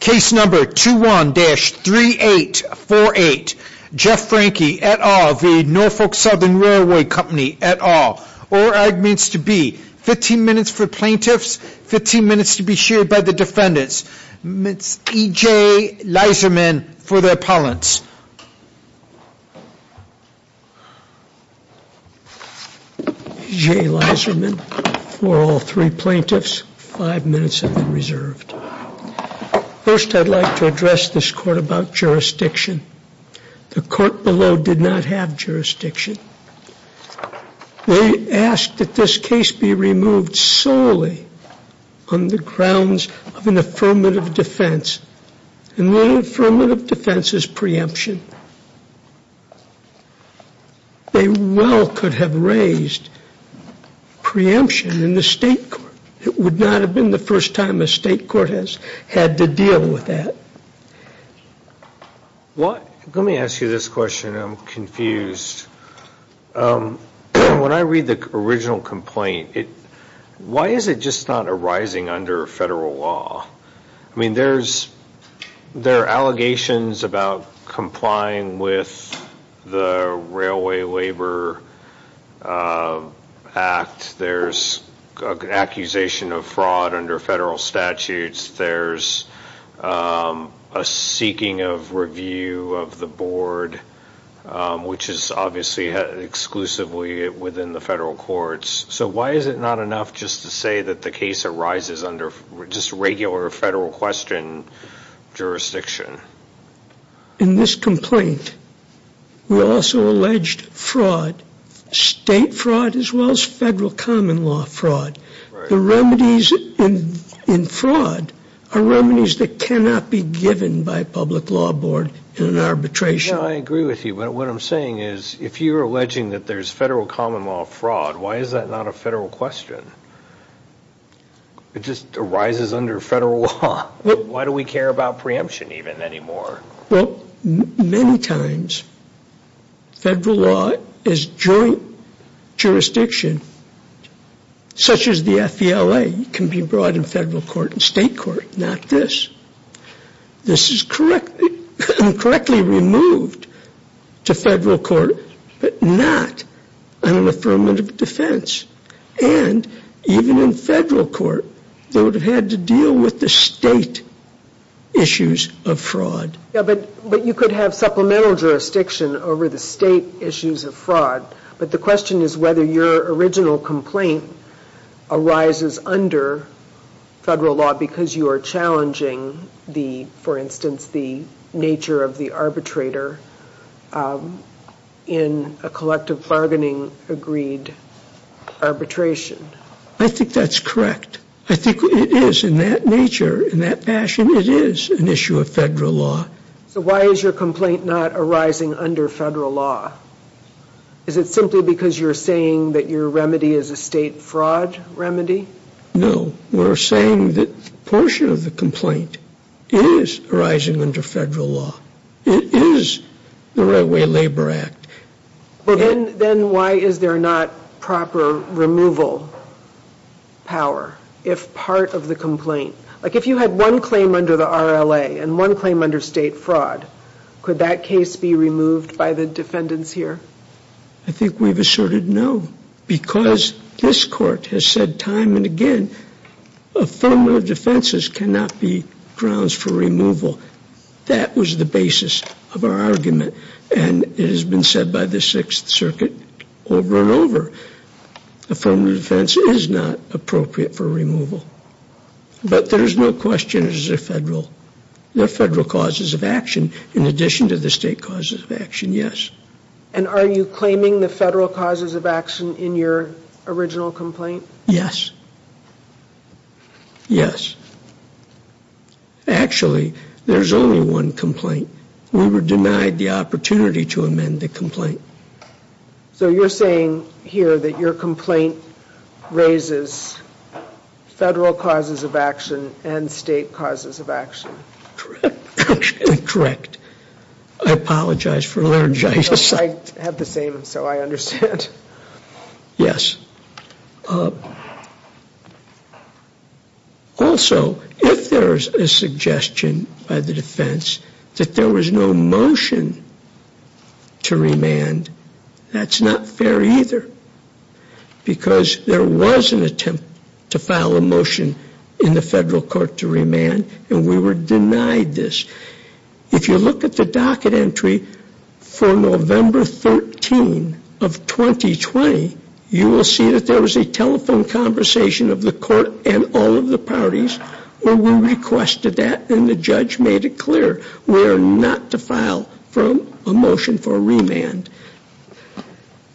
Case number 21-3848, Jeff Franke et al. v. Norfolk Southern Railway Company et al. All arguments to be 15 minutes for plaintiffs, 15 minutes to be shared by the defendants. Ms. E.J. Leiserman for the appellants. E.J. Leiserman for all three plaintiffs, five minutes have been reserved. First, I'd like to address this court about jurisdiction. The court below did not have jurisdiction. They asked that this case be removed solely on the grounds of an affirmative defense, and the affirmative defense is preemption. They well could have raised preemption in the state court. It would not have been the first time a state court has had to deal with that. Let me ask you this question. I'm confused. When I read the original complaint, why is it just not arising under federal law? I mean, there are allegations about complying with the Railway Labor Act. There's an accusation of fraud under federal statutes. There's a seeking of review of the board, which is obviously exclusively within the federal courts. So why is it not enough just to say that the case arises under just regular federal question jurisdiction? In this complaint, we also alleged fraud, state fraud as well as federal common law fraud. The remedies in fraud are remedies that cannot be given by a public law board in an arbitration. I agree with you, but what I'm saying is if you're alleging that there's federal common law fraud, why is that not a federal question? It just arises under federal law. Why do we care about preemption even anymore? Well, many times federal law is joint jurisdiction, such as the FVLA. It can be brought in federal court and state court, not this. This is correctly removed to federal court, but not an affirmative defense. And even in federal court, they would have had to deal with the state issues of fraud. Yeah, but you could have supplemental jurisdiction over the state issues of fraud. But the question is whether your original complaint arises under federal law because you are challenging, for instance, the nature of the arbitrator in a collective bargaining agreed arbitration. I think that's correct. I think it is in that nature, in that fashion, it is an issue of federal law. So why is your complaint not arising under federal law? Is it simply because you're saying that your remedy is a state fraud remedy? No, we're saying that a portion of the complaint is arising under federal law. It is the Railway Labor Act. Then why is there not proper removal power if part of the complaint? Like if you had one claim under the RLA and one claim under state fraud, could that case be removed by the defendants here? I think we've asserted no because this court has said time and again, affirmative defenses cannot be grounds for removal. That was the basis of our argument. And it has been said by the Sixth Circuit over and over. Affirmative defense is not appropriate for removal. But there is no question it is a federal, they're federal causes of action in addition to the state causes of action, yes. And are you claiming the federal causes of action in your original complaint? Yes. Yes. Actually, there's only one complaint. We were denied the opportunity to amend the complaint. So you're saying here that your complaint raises federal causes of action and state causes of action? Correct. I apologize for laryngitis. I have the same, so I understand. Yes. Also, if there is a suggestion by the defense that there was no motion to remand, that's not fair either because there was an attempt to file a motion in the federal court to remand and we were denied this. If you look at the docket entry for November 13 of 2020, you will see that there was a telephone conversation of the court and all of the parties where we requested that and the judge made it clear we are not to file a motion for remand.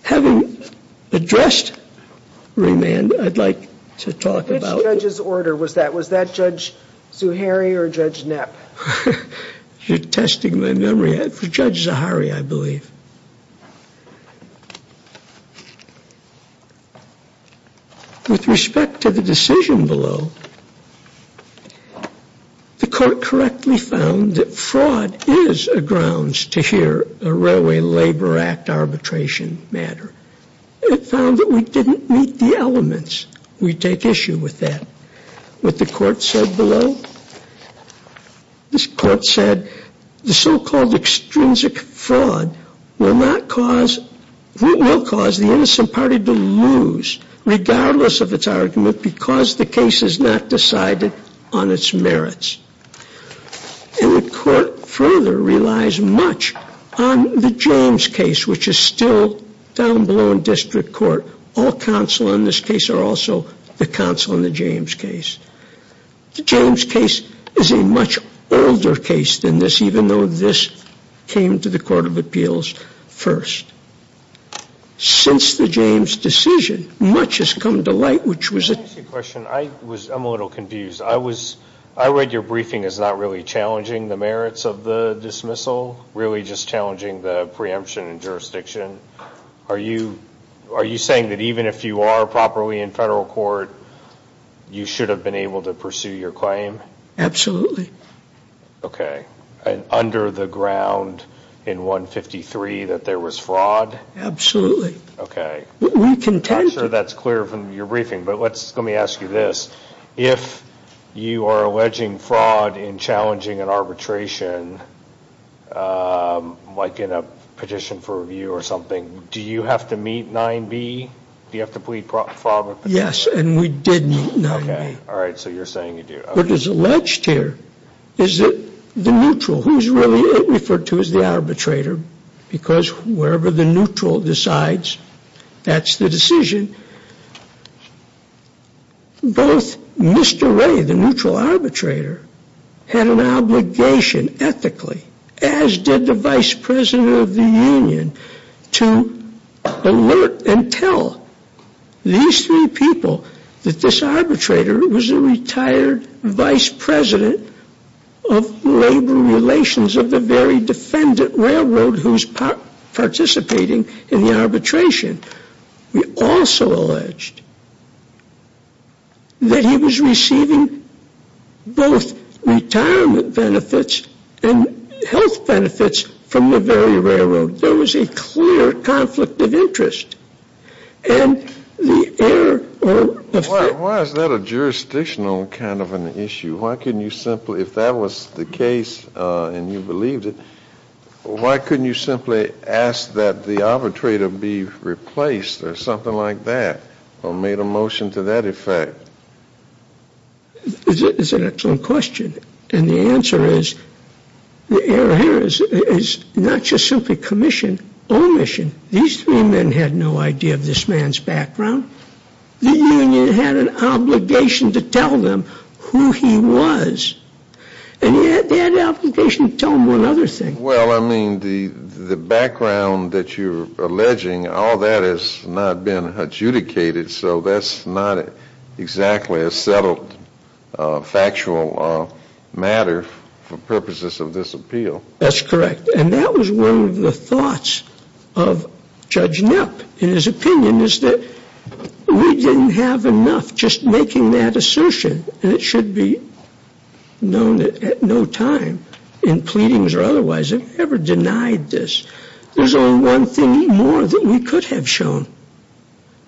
Having addressed remand, I'd like to talk about Which judge's order was that? Was that Judge Zuhairi or Judge Knapp? You're testing my memory. It was Judge Zuhairi, I believe. With respect to the decision below, the court correctly found that fraud is a grounds to hear a Railway Labor Act arbitration matter. It found that we didn't meet the elements. We take issue with that. What the court said below? This court said the so-called extrinsic fraud will cause the innocent party to lose regardless of its argument because the case is not decided on its merits. And the court further relies much on the James case, which is still down below in district court. All counsel in this case are also the counsel in the James case. The James case is a much older case than this, even though this came to the Court of Appeals first. Since the James decision, much has come to light, which was Can I ask you a question? I'm a little confused. I read your briefing as not really challenging the merits of the dismissal, really just challenging the preemption and jurisdiction. Are you saying that even if you are properly in federal court, you should have been able to pursue your claim? Absolutely. Okay. And under the ground in 153 that there was fraud? Absolutely. Okay. We contend. I'm not sure that's clear from your briefing, but let me ask you this. If you are alleging fraud in challenging an arbitration, like in a petition for review or something, do you have to meet 9B? Do you have to plead fraud? Yes. And we did meet 9B. Okay. All right. So you're saying you do. What is alleged here is that the neutral, who is really referred to as the arbitrator, because wherever the neutral decides, that's the decision. Both Mr. Ray, the neutral arbitrator, had an obligation ethically, as did the vice president of the union, to alert and tell these three people that this arbitrator was a retired vice president of labor relations of the very defendant railroad who's participating in the arbitration. We also alleged that he was receiving both retirement benefits and health benefits from the very railroad. There was a clear conflict of interest. And the error of the fact that Why is that a jurisdictional kind of an issue? Why couldn't you simply, if that was the case and you believed it, why couldn't you simply ask that the arbitrator be replaced or something like that or made a motion to that effect? It's an excellent question. And the answer is the error here is not just simply commission, omission. These three men had no idea of this man's background. The union had an obligation to tell them who he was. And he had an obligation to tell them one other thing. Well, I mean, the background that you're alleging, all that has not been adjudicated, so that's not exactly a settled factual matter for purposes of this appeal. That's correct. And that was one of the thoughts of Judge Knapp in his opinion is that we didn't have enough just making that assertion. And it should be known that at no time, in pleadings or otherwise, have we ever denied this. There's only one thing more that we could have shown.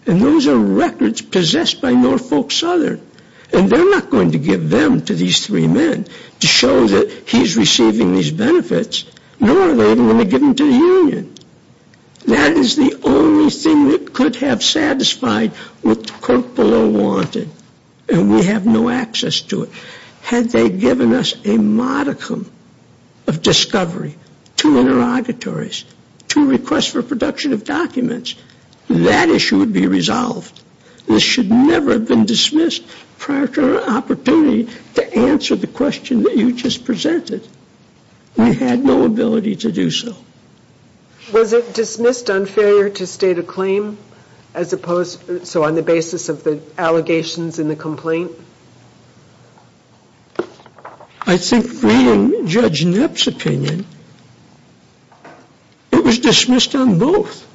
And those are records possessed by Norfolk Southern. And they're not going to give them to these three men to show that he's receiving these benefits, nor are they going to give them to the union. That is the only thing that could have satisfied what the court below wanted. And we have no access to it. Had they given us a modicum of discovery, two interrogatories, two requests for production of documents, that issue would be resolved. This should never have been dismissed prior to our opportunity to answer the question that you just presented. We had no ability to do so. Was it dismissed on failure to state a claim as opposed to on the basis of the allegations in the complaint? I think reading Judge Knapp's opinion, it was dismissed on both.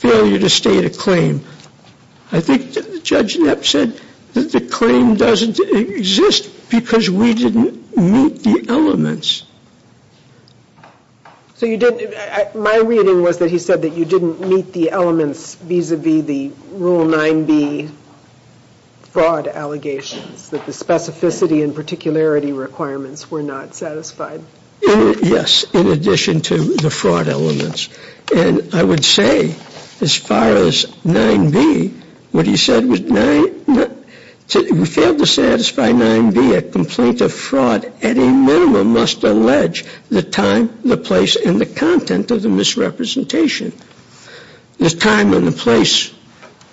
Failure to state a claim. I think Judge Knapp said that the claim doesn't exist because we didn't meet the elements. So you didn't, my reading was that he said that you didn't meet the elements vis-a-vis the Rule 9b fraud allegations, that the specificity and particularity requirements were not satisfied. Yes, in addition to the fraud elements. And I would say as far as 9b, what he said was, if we failed to satisfy 9b, a complaint of fraud at a minimum must allege the time, the place, and the content of the misrepresentation. The time and the place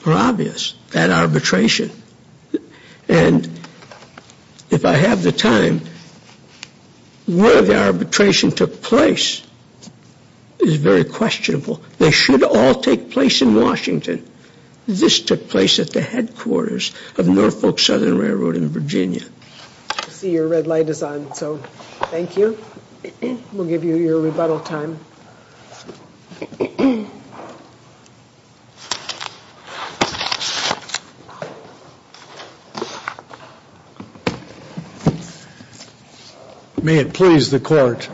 were obvious at arbitration. And if I have the time, where the arbitration took place is very questionable. They should all take place in Washington. This took place at the headquarters of Norfolk Southern Railroad in Virginia. I see your red light is on, so thank you. We'll give you your rebuttal time. May it please the court.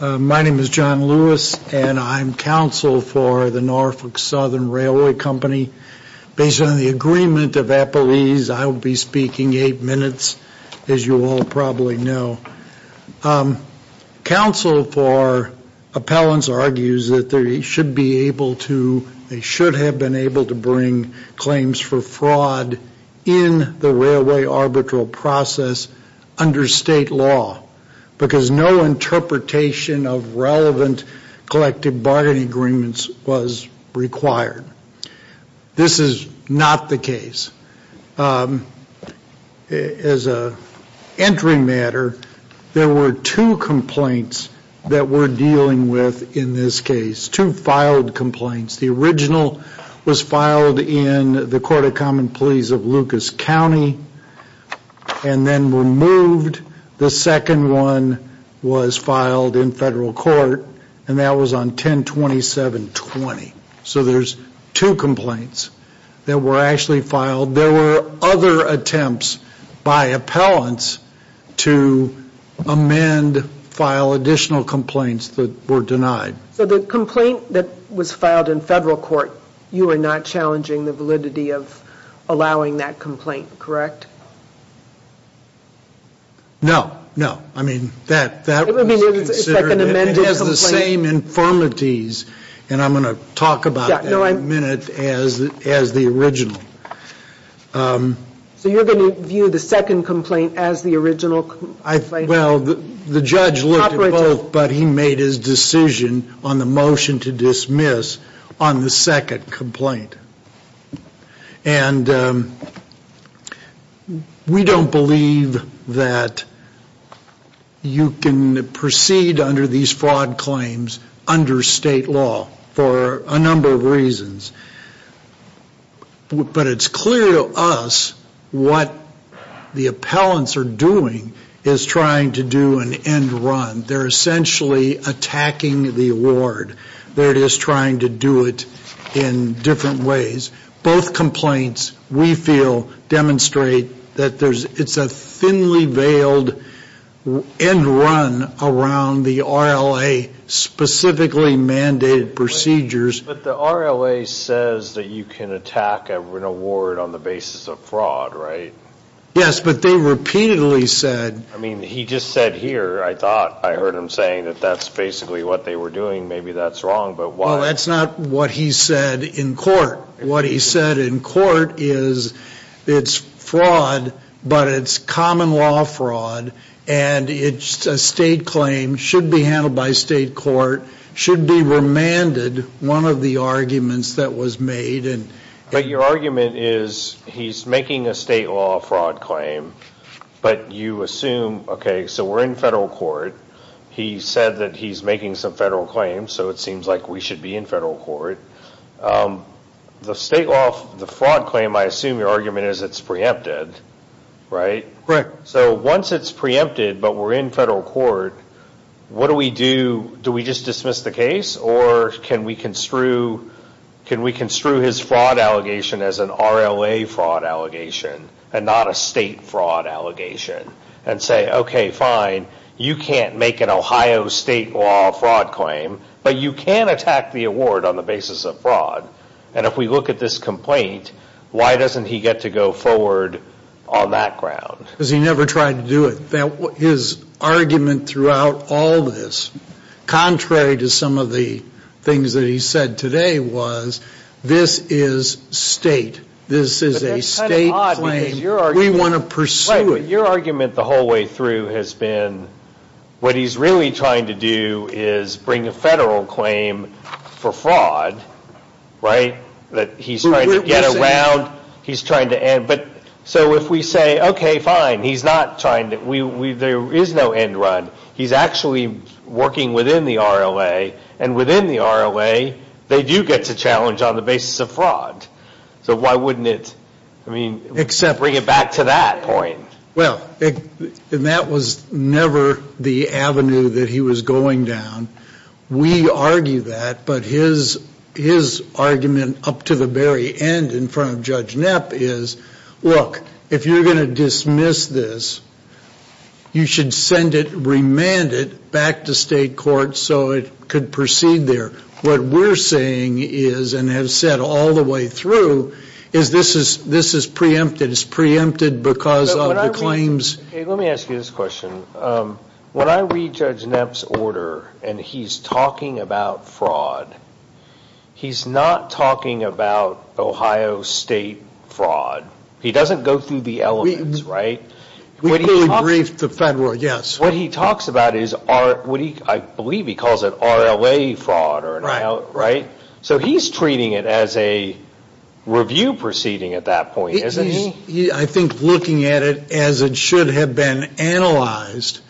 My name is John Lewis, and I'm counsel for the Norfolk Southern Railway Company. Based on the agreement of Appleese, I will be speaking eight minutes, as you all probably know. Counsel for appellants argues that they should be able to, they should have been able to bring claims for fraud in the railway arbitral process under state law because no interpretation of relevant collective bargaining agreements was required. This is not the case. As an entry matter, there were two complaints that we're dealing with in this case, two filed complaints. The original was filed in the Court of Common Pleas of Lucas County and then removed. The second one was filed in federal court, and that was on 10-27-20. So there's two complaints that were actually filed. There were other attempts by appellants to amend, file additional complaints that were denied. So the complaint that was filed in federal court, you are not challenging the validity of allowing that complaint, correct? No, no. I mean, that was considered, and it has the same infirmities, and I'm going to talk about that in a minute, as the original. So you're going to view the second complaint as the original complaint? Well, the judge looked at both, but he made his decision on the motion to dismiss on the second complaint. And we don't believe that you can proceed under these fraud claims under state law for a number of reasons. But it's clear to us what the appellants are doing is trying to do an end run. They're essentially attacking the award. They're just trying to do it in different ways. Both complaints, we feel, demonstrate that it's a thinly veiled end run around the RLA-specifically mandated procedures. But the RLA says that you can attack an award on the basis of fraud, right? Yes, but they repeatedly said. I mean, he just said here, I thought I heard him saying that that's basically what they were doing. Maybe that's wrong, but why? Well, that's not what he said in court. What he said in court is it's fraud, but it's common law fraud, and a state claim should be handled by state court, should be remanded, one of the arguments that was made. But your argument is he's making a state law fraud claim, but you assume, okay, so we're in federal court. He said that he's making some federal claims, so it seems like we should be in federal court. The state law, the fraud claim, I assume your argument is it's preempted, right? Correct. So once it's preempted, but we're in federal court, what do we do? Do we just dismiss the case, or can we construe his fraud allegation as an RLA fraud allegation, and not a state fraud allegation, and say, okay, fine, you can't make an Ohio state law fraud claim, but you can attack the award on the basis of fraud. And if we look at this complaint, why doesn't he get to go forward on that ground? Because he never tried to do it. His argument throughout all this, contrary to some of the things that he said today, was this is state. This is a state claim. We want to pursue it. But your argument the whole way through has been what he's really trying to do is bring a federal claim for fraud, right? That he's trying to get around. He's trying to end. But so if we say, okay, fine, he's not trying to, there is no end run. He's actually working within the RLA, and within the RLA, they do get to challenge on the basis of fraud. So why wouldn't it, I mean, bring it back to that point? Well, and that was never the avenue that he was going down. We argue that, but his argument up to the very end in front of Judge Knapp is, look, if you're going to dismiss this, you should send it, remand it, back to state court so it could proceed there. What we're saying is, and have said all the way through, is this is preempted. It's preempted because of the claims. Hey, let me ask you this question. When I read Judge Knapp's order and he's talking about fraud, he's not talking about Ohio State fraud. He doesn't go through the elements, right? We clearly briefed the federal, yes. What he talks about is, I believe he calls it RLA fraud, right? So he's treating it as a review proceeding at that point, isn't he? He's, I think, looking at it as it should have been analyzed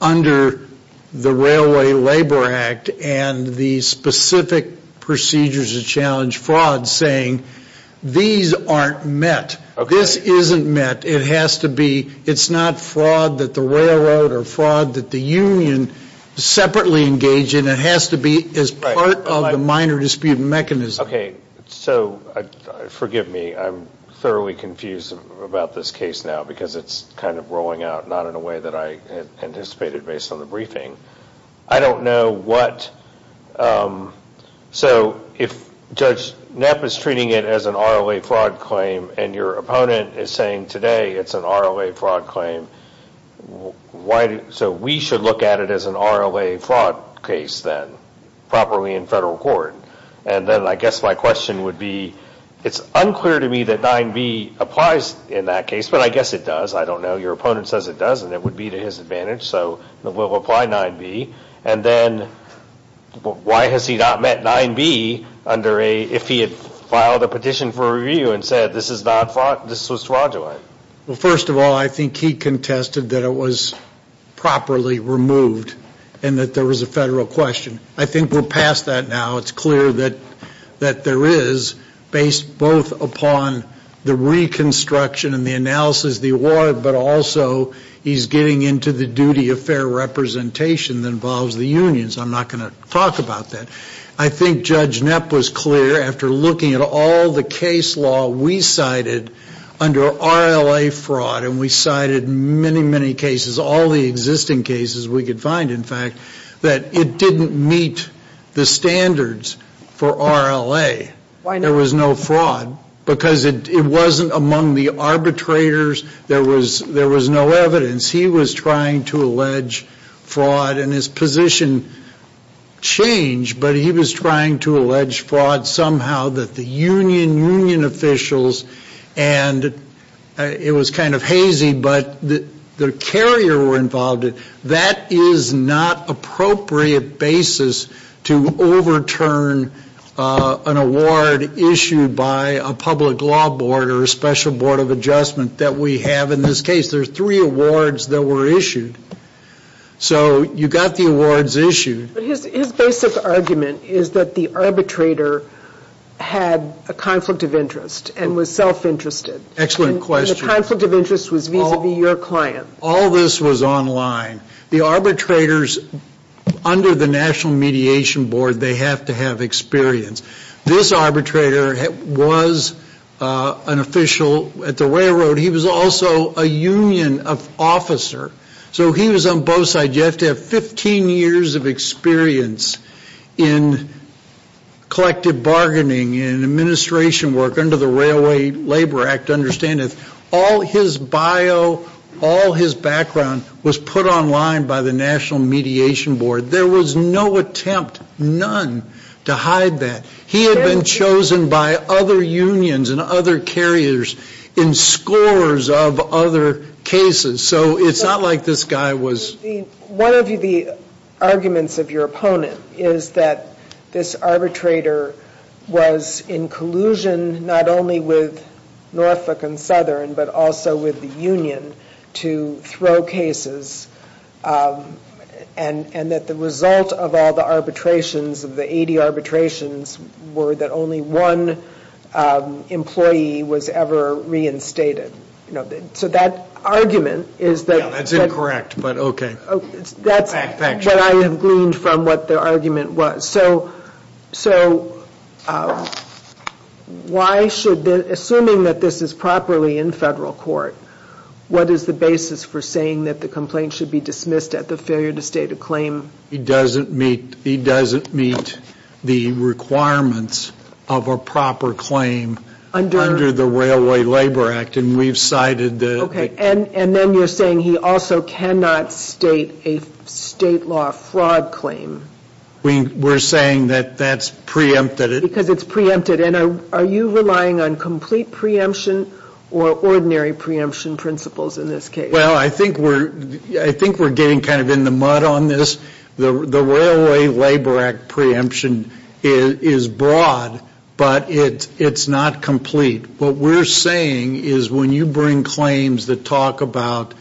under the Railway Labor Act and the specific procedures that challenge fraud, saying these aren't met. This isn't met. It has to be, it's not fraud that the railroad or fraud that the union separately engage in. It has to be as part of the minor dispute mechanism. Okay, so forgive me, I'm thoroughly confused about this case now because it's kind of rolling out not in a way that I anticipated based on the briefing. I don't know what, so if Judge Knapp is treating it as an RLA fraud claim and your opponent is saying today it's an RLA fraud claim, so we should look at it as an RLA fraud case then, properly in federal court. And then I guess my question would be, it's unclear to me that 9B applies in that case, but I guess it does, I don't know. Your opponent says it does and it would be to his advantage, so we'll apply 9B. And then why has he not met 9B under a, if he had filed a petition for review and said this is not fraud, this was fraudulent? Well, first of all, I think he contested that it was properly removed and that there was a federal question. I think we're past that now. It's clear that there is based both upon the reconstruction and the analysis of the award, but also he's getting into the duty of fair representation that involves the unions. I'm not going to talk about that. I think Judge Knapp was clear after looking at all the case law we cited under RLA fraud and we cited many, many cases, all the existing cases we could find, in fact, that it didn't meet the standards for RLA. There was no fraud because it wasn't among the arbitrators. There was no evidence. He was trying to allege fraud and his position changed, but he was trying to allege fraud somehow that the union, union officials, and it was kind of hazy, but the carrier were involved. That is not appropriate basis to overturn an award issued by a public law board or a special board of adjustment that we have in this case. There are three awards that were issued. So you got the awards issued. But his basic argument is that the arbitrator had a conflict of interest and was self-interested. Excellent question. And the conflict of interest was vis-a-vis your client. All this was online. The arbitrators under the National Mediation Board, they have to have experience. This arbitrator was an official at the railroad. He was also a union officer. So he was on both sides. You have to have 15 years of experience in collective bargaining and administration work under the Railway Labor Act to understand it. All his bio, all his background was put online by the National Mediation Board. There was no attempt, none, to hide that. He had been chosen by other unions and other carriers in scores of other cases. So it's not like this guy was. One of the arguments of your opponent is that this arbitrator was in collusion not only with Norfolk and Southern but also with the union to throw cases and that the result of all the arbitrations, of the 80 arbitrations, were that only one employee was ever reinstated. So that argument is that... That's incorrect, but okay. That's what I have gleaned from what the argument was. So assuming that this is properly in federal court, what is the basis for saying that the complaint should be dismissed at the failure to state a claim? He doesn't meet the requirements of a proper claim under the Railway Labor Act, and we've cited the... Okay, and then you're saying he also cannot state a state law fraud claim. We're saying that that's preempted. Because it's preempted. And are you relying on complete preemption or ordinary preemption principles in this case? Well, I think we're getting kind of in the mud on this. The Railway Labor Act preemption is broad, but it's not complete. What we're saying is when you bring claims that talk about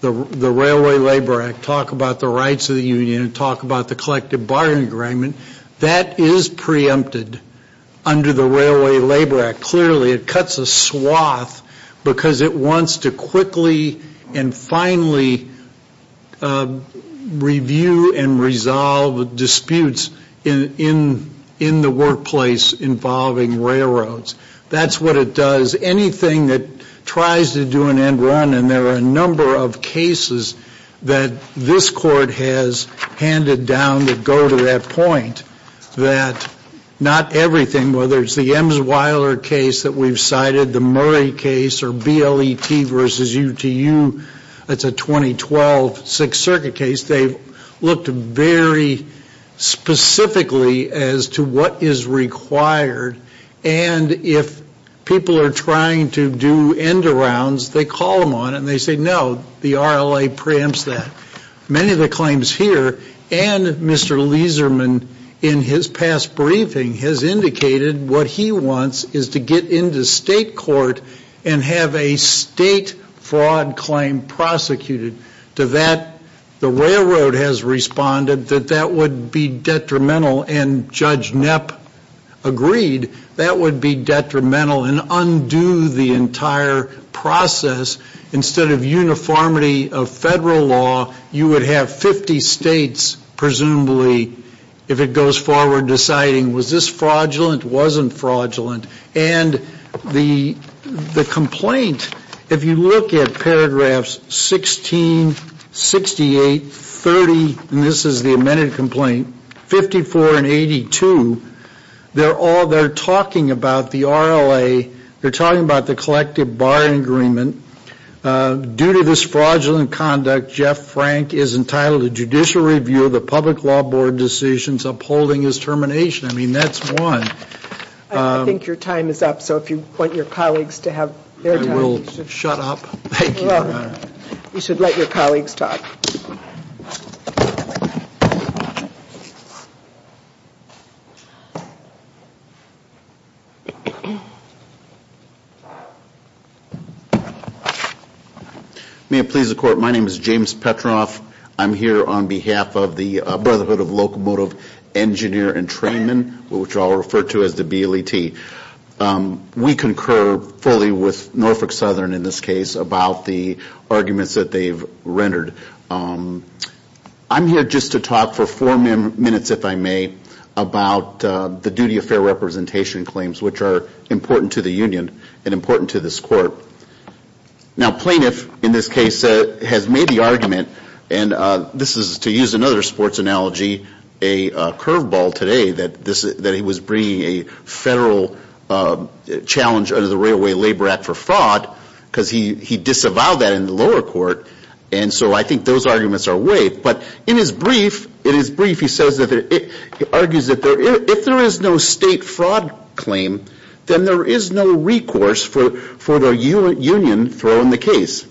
the Railway Labor Act, talk about the rights of the union, talk about the collective bargaining agreement, that is preempted under the Railway Labor Act. Clearly it cuts a swath because it wants to quickly and finally review and resolve disputes in the workplace involving railroads. That's what it does. It does anything that tries to do an end run, and there are a number of cases that this Court has handed down that go to that point, that not everything, whether it's the Emsweiler case that we've cited, the Murray case, or BLET v. UTU, that's a 2012 Sixth Circuit case, they've looked very specifically as to what is required. And if people are trying to do end arounds, they call them on it, and they say, no, the RLA preempts that. Many of the claims here, and Mr. Leeserman, in his past briefing, has indicated what he wants is to get into state court and have a state fraud claim prosecuted. To that, the railroad has responded that that would be detrimental, and Judge Knapp agreed that would be detrimental and undo the entire process. Instead of uniformity of federal law, you would have 50 states presumably, if it goes forward, deciding was this fraudulent, wasn't fraudulent. And the complaint, if you look at paragraphs 16, 68, 30, and this is the amended complaint, 54 and 82, they're talking about the RLA, they're talking about the collective bar agreement. Due to this fraudulent conduct, Jeff Frank is entitled to judicial review of the public law board decisions upholding his termination. I mean, that's one. I think your time is up, so if you want your colleagues to have their time. I will shut up. Thank you. You should let your colleagues talk. May it please the Court, my name is James Petroff. I'm here on behalf of the Brotherhood of Locomotive Engineer and Trainman, which I'll refer to as the BLET. We concur fully with Norfolk Southern, in this case, about the arguments that they've rendered. I'm here just to talk for four minutes, if I may, about the duty of fair representation claims, which are important to the union and important to this Court. Now, Plaintiff, in this case, has made the argument, and this is, to use another sports analogy, a curveball today, that he was bringing a federal challenge under the Railway Labor Act for fraud because he disavowed that in the lower court, and so I think those arguments are waived. But in his brief, he argues that if there is no state fraud claim, then there is no recourse for the union throwing the case.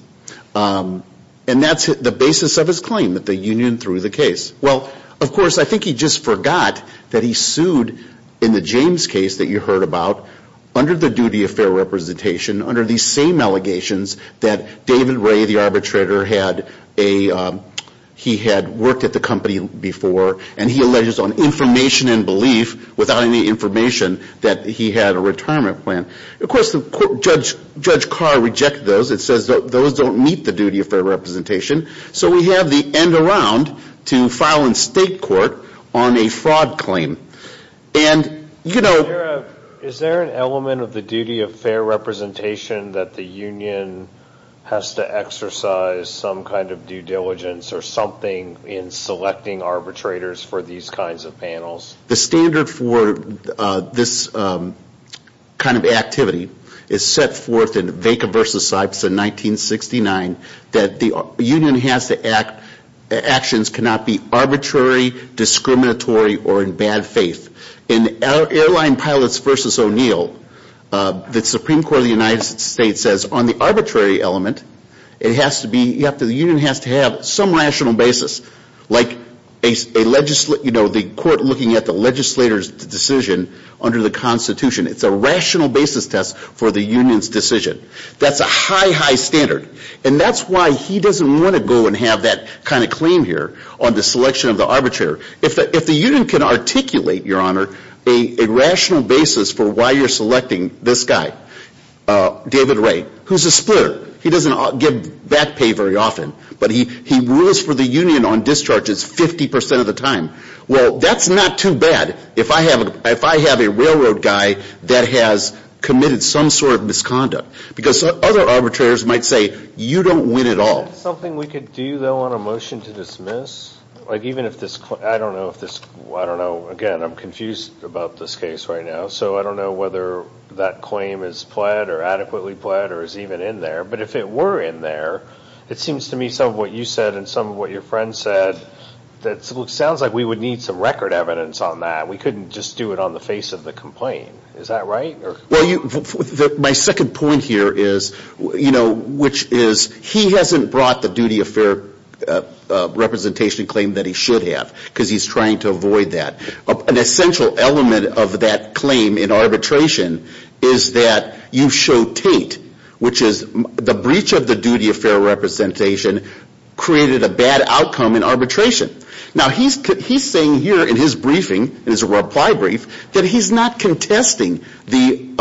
And that's the basis of his claim, that the union threw the case. Well, of course, I think he just forgot that he sued in the James case that you heard about, under the duty of fair representation, under these same allegations that David Ray, the arbitrator, he had worked at the company before, and he alleges on information and belief, without any information, that he had a retirement plan. Of course, Judge Carr rejected those. It says those don't meet the duty of fair representation. So we have the end around to file in state court on a fraud claim. And, you know. Is there an element of the duty of fair representation that the union has to exercise some kind of due diligence or something in selecting arbitrators for these kinds of panels? The standard for this kind of activity is set forth in Vaca v. Sipes in 1969, that the union has to act, actions cannot be arbitrary, discriminatory, or in bad faith. In Airline Pilots v. O'Neill, the Supreme Court of the United States says, on the arbitrary element, it has to be, the union has to have some rational basis. Like, you know, the court looking at the legislator's decision under the Constitution. It's a rational basis test for the union's decision. That's a high, high standard. And that's why he doesn't want to go and have that kind of claim here on the selection of the arbitrator. If the union can articulate, Your Honor, a rational basis for why you're selecting this guy, David Ray, who's a splitter, he doesn't give back pay very often. But he rules for the union on discharges 50% of the time. Well, that's not too bad if I have a railroad guy that has committed some sort of misconduct. Because other arbitrators might say, you don't win at all. Is that something we could do, though, on a motion to dismiss? Like, even if this, I don't know if this, I don't know, again, I'm confused about this case right now. So I don't know whether that claim is pled or adequately pled or is even in there. But if it were in there, it seems to me some of what you said and some of what your friend said, that sounds like we would need some record evidence on that. We couldn't just do it on the face of the complaint. Is that right? Well, my second point here is, you know, which is he hasn't brought the duty of fair representation claim that he should have. Because he's trying to avoid that. An essential element of that claim in arbitration is that you show Tate, which is the breach of the duty of fair representation created a bad outcome in arbitration. Now, he's saying here in his briefing, in his reply brief, that he's not contesting the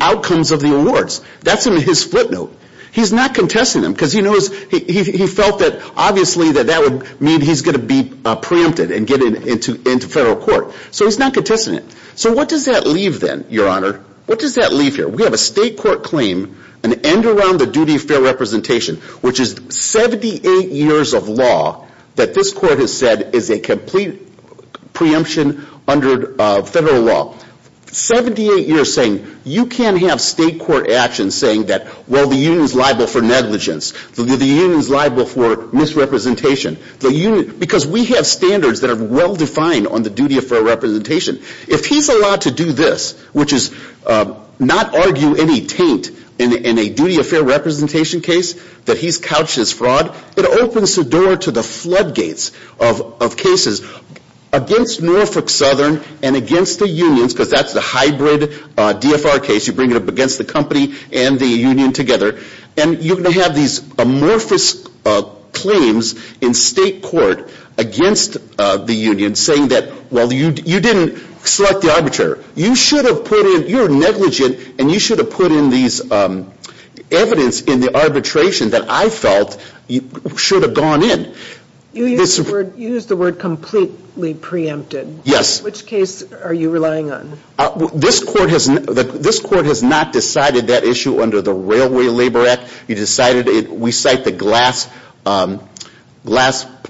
outcomes of the awards. That's in his footnote. He's not contesting them because he knows, he felt that obviously that that would mean he's going to be preempted and get into federal court. So he's not contesting it. So what does that leave then, Your Honor? What does that leave here? We have a state court claim, an end around the duty of fair representation, which is 78 years of law that this court has said is a complete preemption under federal law. Seventy-eight years saying you can't have state court action saying that, well, the union's liable for negligence. The union's liable for misrepresentation. Because we have standards that are well-defined on the duty of fair representation. If he's allowed to do this, which is not argue any taint in a duty of fair representation case that he's couched his fraud, it opens the door to the floodgates of cases against Norfolk Southern and against the unions, because that's the hybrid DFR case. You bring it up against the company and the union together. And you're going to have these amorphous claims in state court against the union saying that, well, you didn't select the arbitrator. You should have put in, you're negligent, and you should have put in these evidence in the arbitration that I felt should have gone in. You used the word completely preempted. Yes. Which case are you relying on? This court has not decided that issue under the Railway Labor Act. You decided it. We cite the glass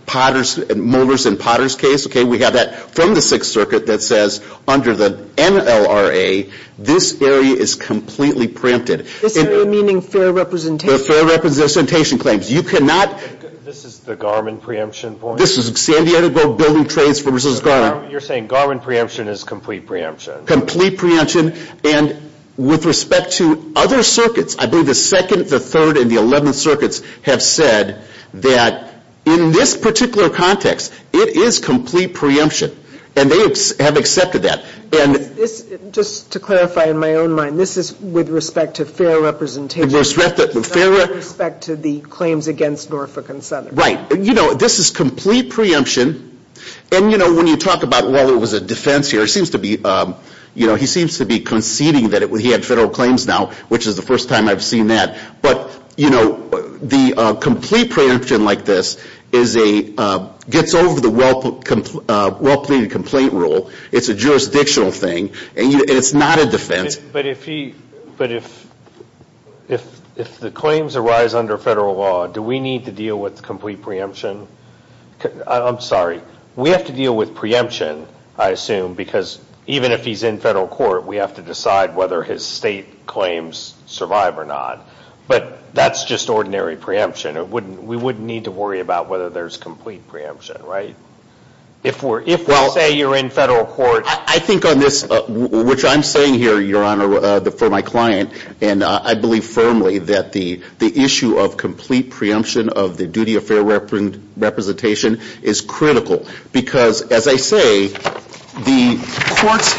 potters, molders and potters case. Okay. We have that from the Sixth Circuit that says under the NLRA, this area is completely preempted. This area meaning fair representation? Fair representation claims. You cannot. This is the Garmin preemption point. This is San Diego Building Trades versus Garmin. You're saying Garmin preemption is complete preemption. Complete preemption. And with respect to other circuits, I believe the Second, the Third, and the Eleventh Circuits have said that in this particular context, it is complete preemption. And they have accepted that. Just to clarify in my own mind, this is with respect to fair representation. With respect to the claims against Norfolk and Southern. Right. You know, this is complete preemption. And, you know, when you talk about, well, it was a defense here. It seems to be, you know, he seems to be conceding that he had federal claims now, which is the first time I've seen that. But, you know, the complete preemption like this is a, gets over the well-plated complaint rule. It's a jurisdictional thing. And it's not a defense. But if he, but if the claims arise under federal law, do we need to deal with complete preemption? I'm sorry. We have to deal with preemption, I assume, because even if he's in federal court, we have to decide whether his state claims survive or not. But that's just ordinary preemption. We wouldn't need to worry about whether there's complete preemption, right? If we're, if we say you're in federal court. I think on this, which I'm saying here, Your Honor, for my client, and I believe firmly that the issue of complete preemption of the duty of fair representation is critical. Because, as I say, the courts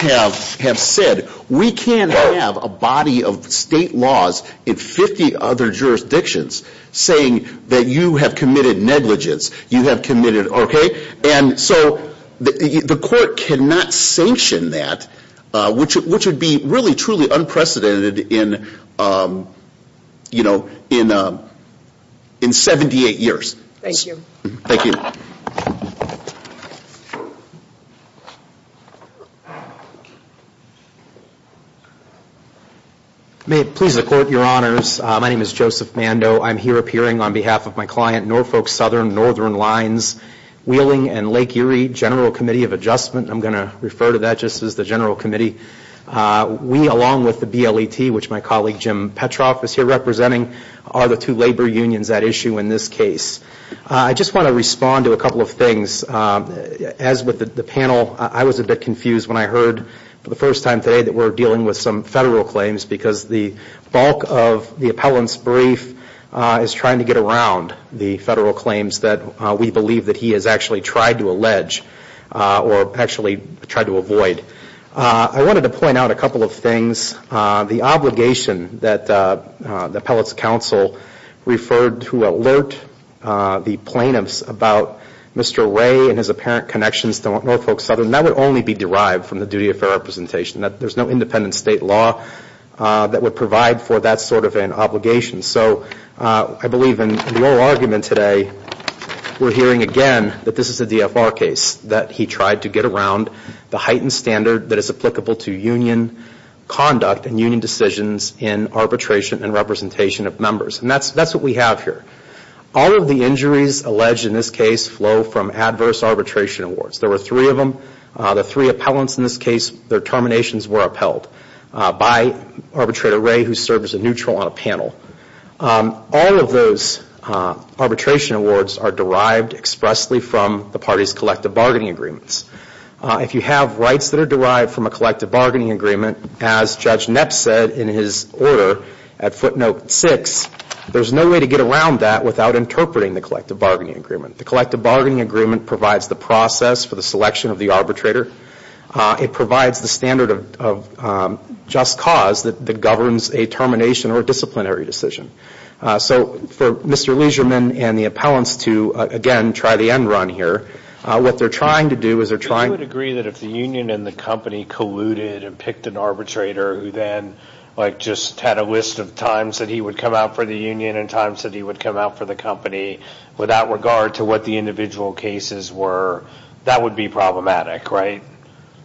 have said we can't have a body of state laws in 50 other jurisdictions saying that you have committed negligence. And so the court cannot sanction that, which would be really, truly unprecedented in, you know, in 78 years. Thank you. Thank you. May it please the Court, Your Honors. My name is Joseph Mando. I'm here appearing on behalf of my client Norfolk Southern Northern Lines Wheeling and Lake Erie General Committee of Adjustment. I'm going to refer to that just as the general committee. We, along with the BLET, which my colleague Jim Petroff is here representing, are the two labor unions at issue in this case. I just want to respond to a couple of things. As with the panel, I was a bit confused when I heard for the first time today that we're dealing with some federal claims. Because the bulk of the appellant's brief is trying to get around the federal claims that we believe that he has actually tried to allege or actually tried to avoid. I wanted to point out a couple of things. The obligation that the appellate's counsel referred to alert the plaintiffs about Mr. Ray and his apparent connections to Norfolk Southern, that would only be derived from the duty of fair representation. There's no independent state law that would provide for that sort of an obligation. So I believe in the oral argument today, we're hearing again that this is a DFR case, that he tried to get around the heightened standard that is applicable to union conduct and union decisions in arbitration and representation of members. And that's what we have here. All of the injuries alleged in this case flow from adverse arbitration awards. There were three of them. The three appellants in this case, their terminations were upheld by Arbitrator Ray, who served as a neutral on a panel. All of those arbitration awards are derived expressly from the parties' collective bargaining agreements. If you have rights that are derived from a collective bargaining agreement, as Judge Knapp said in his order at footnote six, there's no way to get around that without interpreting the collective bargaining agreement. The collective bargaining agreement provides the process for the selection of the arbitrator. It provides the standard of just cause that governs a termination or disciplinary decision. So for Mr. Leisureman and the appellants to, again, try the end run here, what they're trying to do is they're trying to- Would you agree that if the union and the company colluded and picked an arbitrator who then just had a list of times that he would come out for the union and times that he would come out for the company without regard to what the individual cases were, that would be problematic, right?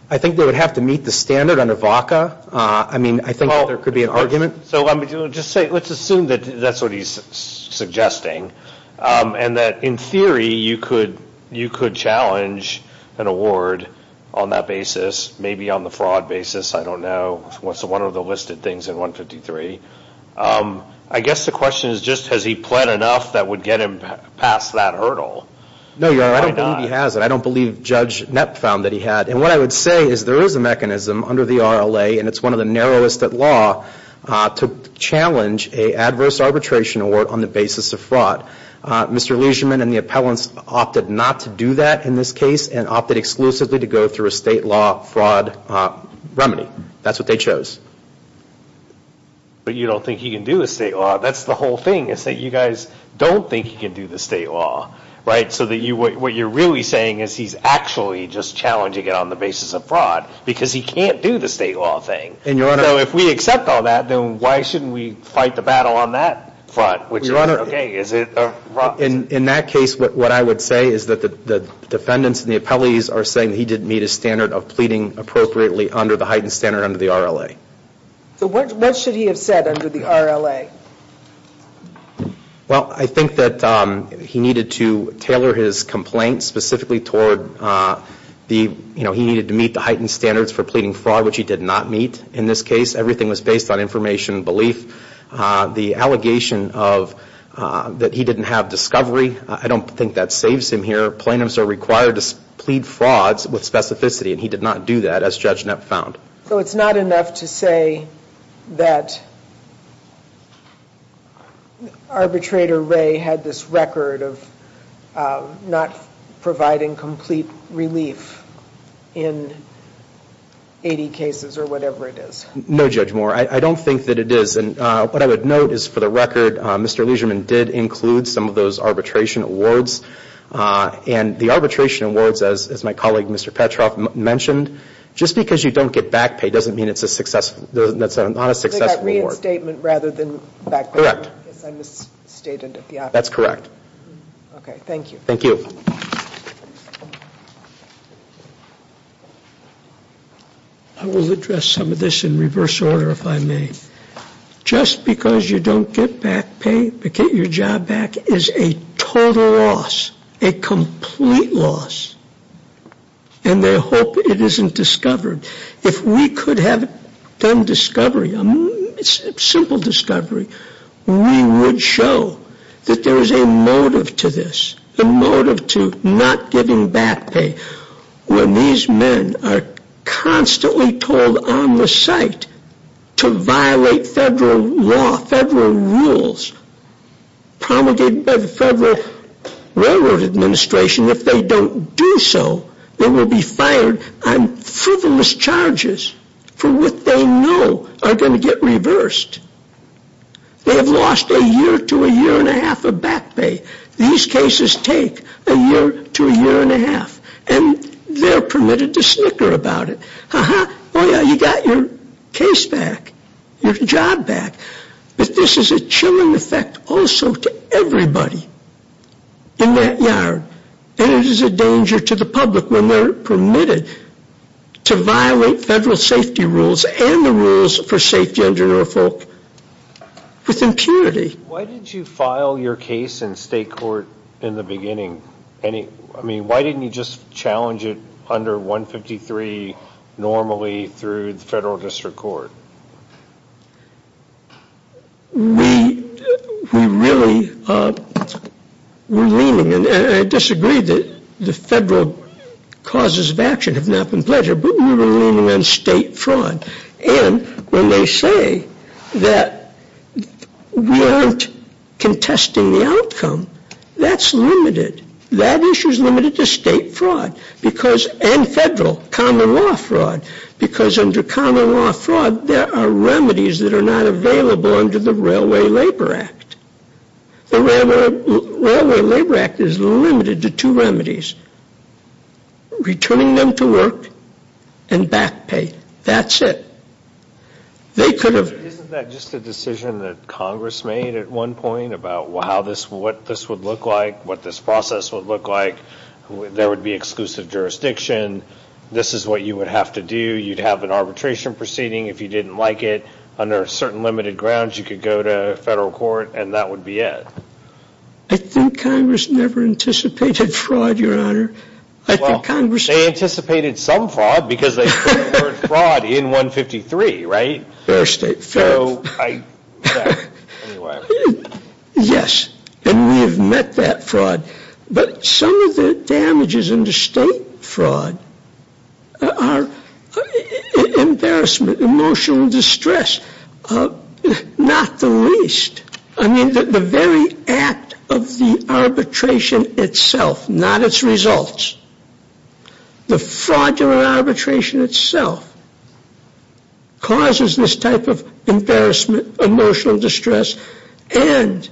I think they would have to meet the standard under VACA. I mean, I think there could be an argument. So let's assume that that's what he's suggesting and that, in theory, you could challenge an award on that basis, maybe on the fraud basis. I don't know. It's one of the listed things in 153. I guess the question is just has he pled enough that would get him past that hurdle. No, Your Honor, I don't believe he has it. I don't believe Judge Knapp found that he had. And what I would say is there is a mechanism under the RLA, and it's one of the narrowest at law, to challenge an adverse arbitration award on the basis of fraud. Mr. Leisureman and the appellants opted not to do that in this case and opted exclusively to go through a state law fraud remedy. That's what they chose. But you don't think he can do a state law? That's the whole thing is that you guys don't think he can do the state law, right? So what you're really saying is he's actually just challenging it on the basis of fraud because he can't do the state law thing. And, Your Honor. So if we accept all that, then why shouldn't we fight the battle on that front? Which is, okay, is it a fraud? In that case, what I would say is that the defendants and the appellees are saying that he didn't meet his standard of pleading appropriately under the heightened standard under the RLA. So what should he have said under the RLA? Well, I think that he needed to tailor his complaint specifically toward the, you know, he needed to meet the heightened standards for pleading fraud, which he did not meet in this case. Everything was based on information and belief. The allegation that he didn't have discovery, I don't think that saves him here. Plaintiffs are required to plead frauds with specificity, and he did not do that, as Judge Knapp found. So it's not enough to say that arbitrator Ray had this record of not providing complete relief in 80 cases or whatever it is? No, Judge Moore. I don't think that it is. And what I would note is, for the record, Mr. Leiserman did include some of those arbitration awards. And the arbitration awards, as my colleague, Mr. Petroff, mentioned, just because you don't get back pay doesn't mean it's a successful – that's not a successful award. Reinstatement rather than back pay. Correct. I misstated it. That's correct. Okay. Thank you. Thank you. I will address some of this in reverse order, if I may. Just because you don't get back pay to get your job back is a total loss, a complete loss. And they hope it isn't discovered. If we could have done discovery, simple discovery, we would show that there is a motive to this, a motive to not giving back pay when these men are constantly told on the site to violate federal law, federal rules promulgated by the Federal Railroad Administration. If they don't do so, they will be fired on frivolous charges for what they know are going to get reversed. They have lost a year to a year and a half of back pay. These cases take a year to a year and a half, and they're permitted to snicker about it. Uh-huh. Oh, yeah, you got your case back, your job back. But this is a chilling effect also to everybody in that yard. And it is a danger to the public when they're permitted to violate federal safety rules and the rules for safety under Norfolk with impurity. Why did you file your case in state court in the beginning? I mean, why didn't you just challenge it under 153 normally through the Federal District Court? We really were leaning, and I disagree that the federal causes of action have not been pledged, but we were leaning on state fraud. And when they say that we aren't contesting the outcome, that's limited. That issue is limited to state fraud and federal, common law fraud, because under common law fraud there are remedies that are not available under the Railway Labor Act. The Railway Labor Act is limited to two remedies, returning them to work and back pay. That's it. Isn't that just a decision that Congress made at one point about what this would look like, what this process would look like? There would be exclusive jurisdiction. This is what you would have to do. You'd have an arbitration proceeding if you didn't like it. Under certain limited grounds you could go to federal court and that would be it. I think Congress never anticipated fraud, Your Honor. They anticipated some fraud because they heard fraud in 153, right? Yes, and we have met that fraud. But some of the damages under state fraud are embarrassment, emotional distress, not the least. The very act of the arbitration itself, not its results, the fraudulent arbitration itself causes this type of embarrassment, emotional distress, and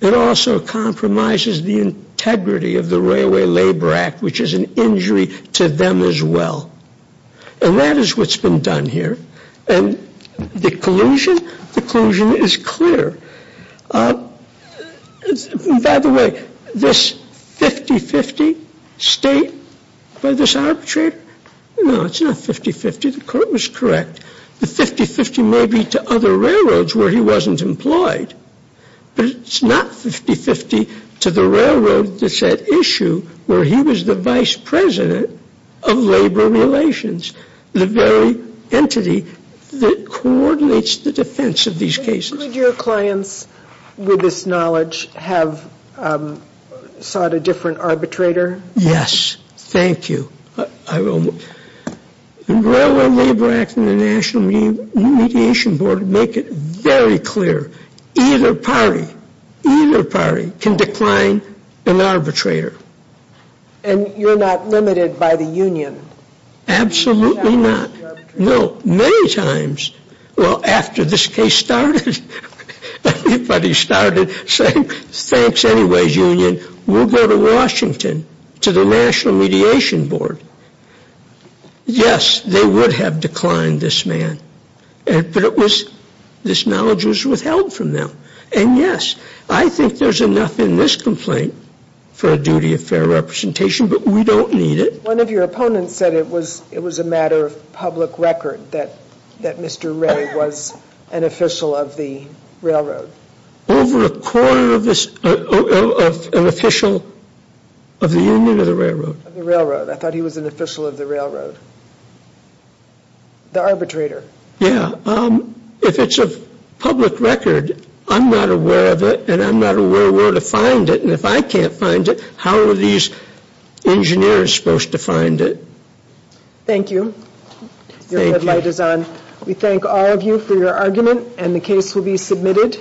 it also compromises the integrity of the Railway Labor Act, which is an injury to them as well. And that is what's been done here. And the collusion? The collusion is clear. By the way, this 50-50 state by this arbitrator? No, it's not 50-50. The court was correct. The 50-50 may be to other railroads where he wasn't employed, but it's not 50-50 to the railroad that's at issue where he was the vice president of labor relations, the very entity that coordinates the defense of these cases. Could your clients with this knowledge have sought a different arbitrator? Yes. Thank you. The Railway Labor Act and the National Mediation Board make it very clear. Either party, either party can decline an arbitrator. And you're not limited by the union? Absolutely not. No, many times. Well, after this case started, everybody started saying, thanks anyway, union, we'll go to Washington to the National Mediation Board. Yes, they would have declined this man, but this knowledge was withheld from them. And, yes, I think there's enough in this complaint for a duty of fair representation, but we don't need it. One of your opponents said it was a matter of public record that Mr. Ray was an official of the railroad. Over a quarter of an official of the union or the railroad? Of the railroad. I thought he was an official of the railroad. The arbitrator. Yes. If it's a public record, I'm not aware of it, and I'm not aware where to find it. And if I can't find it, how are these engineers supposed to find it? Thank you. Your red light is on. We thank all of you for your argument, and the case will be submitted.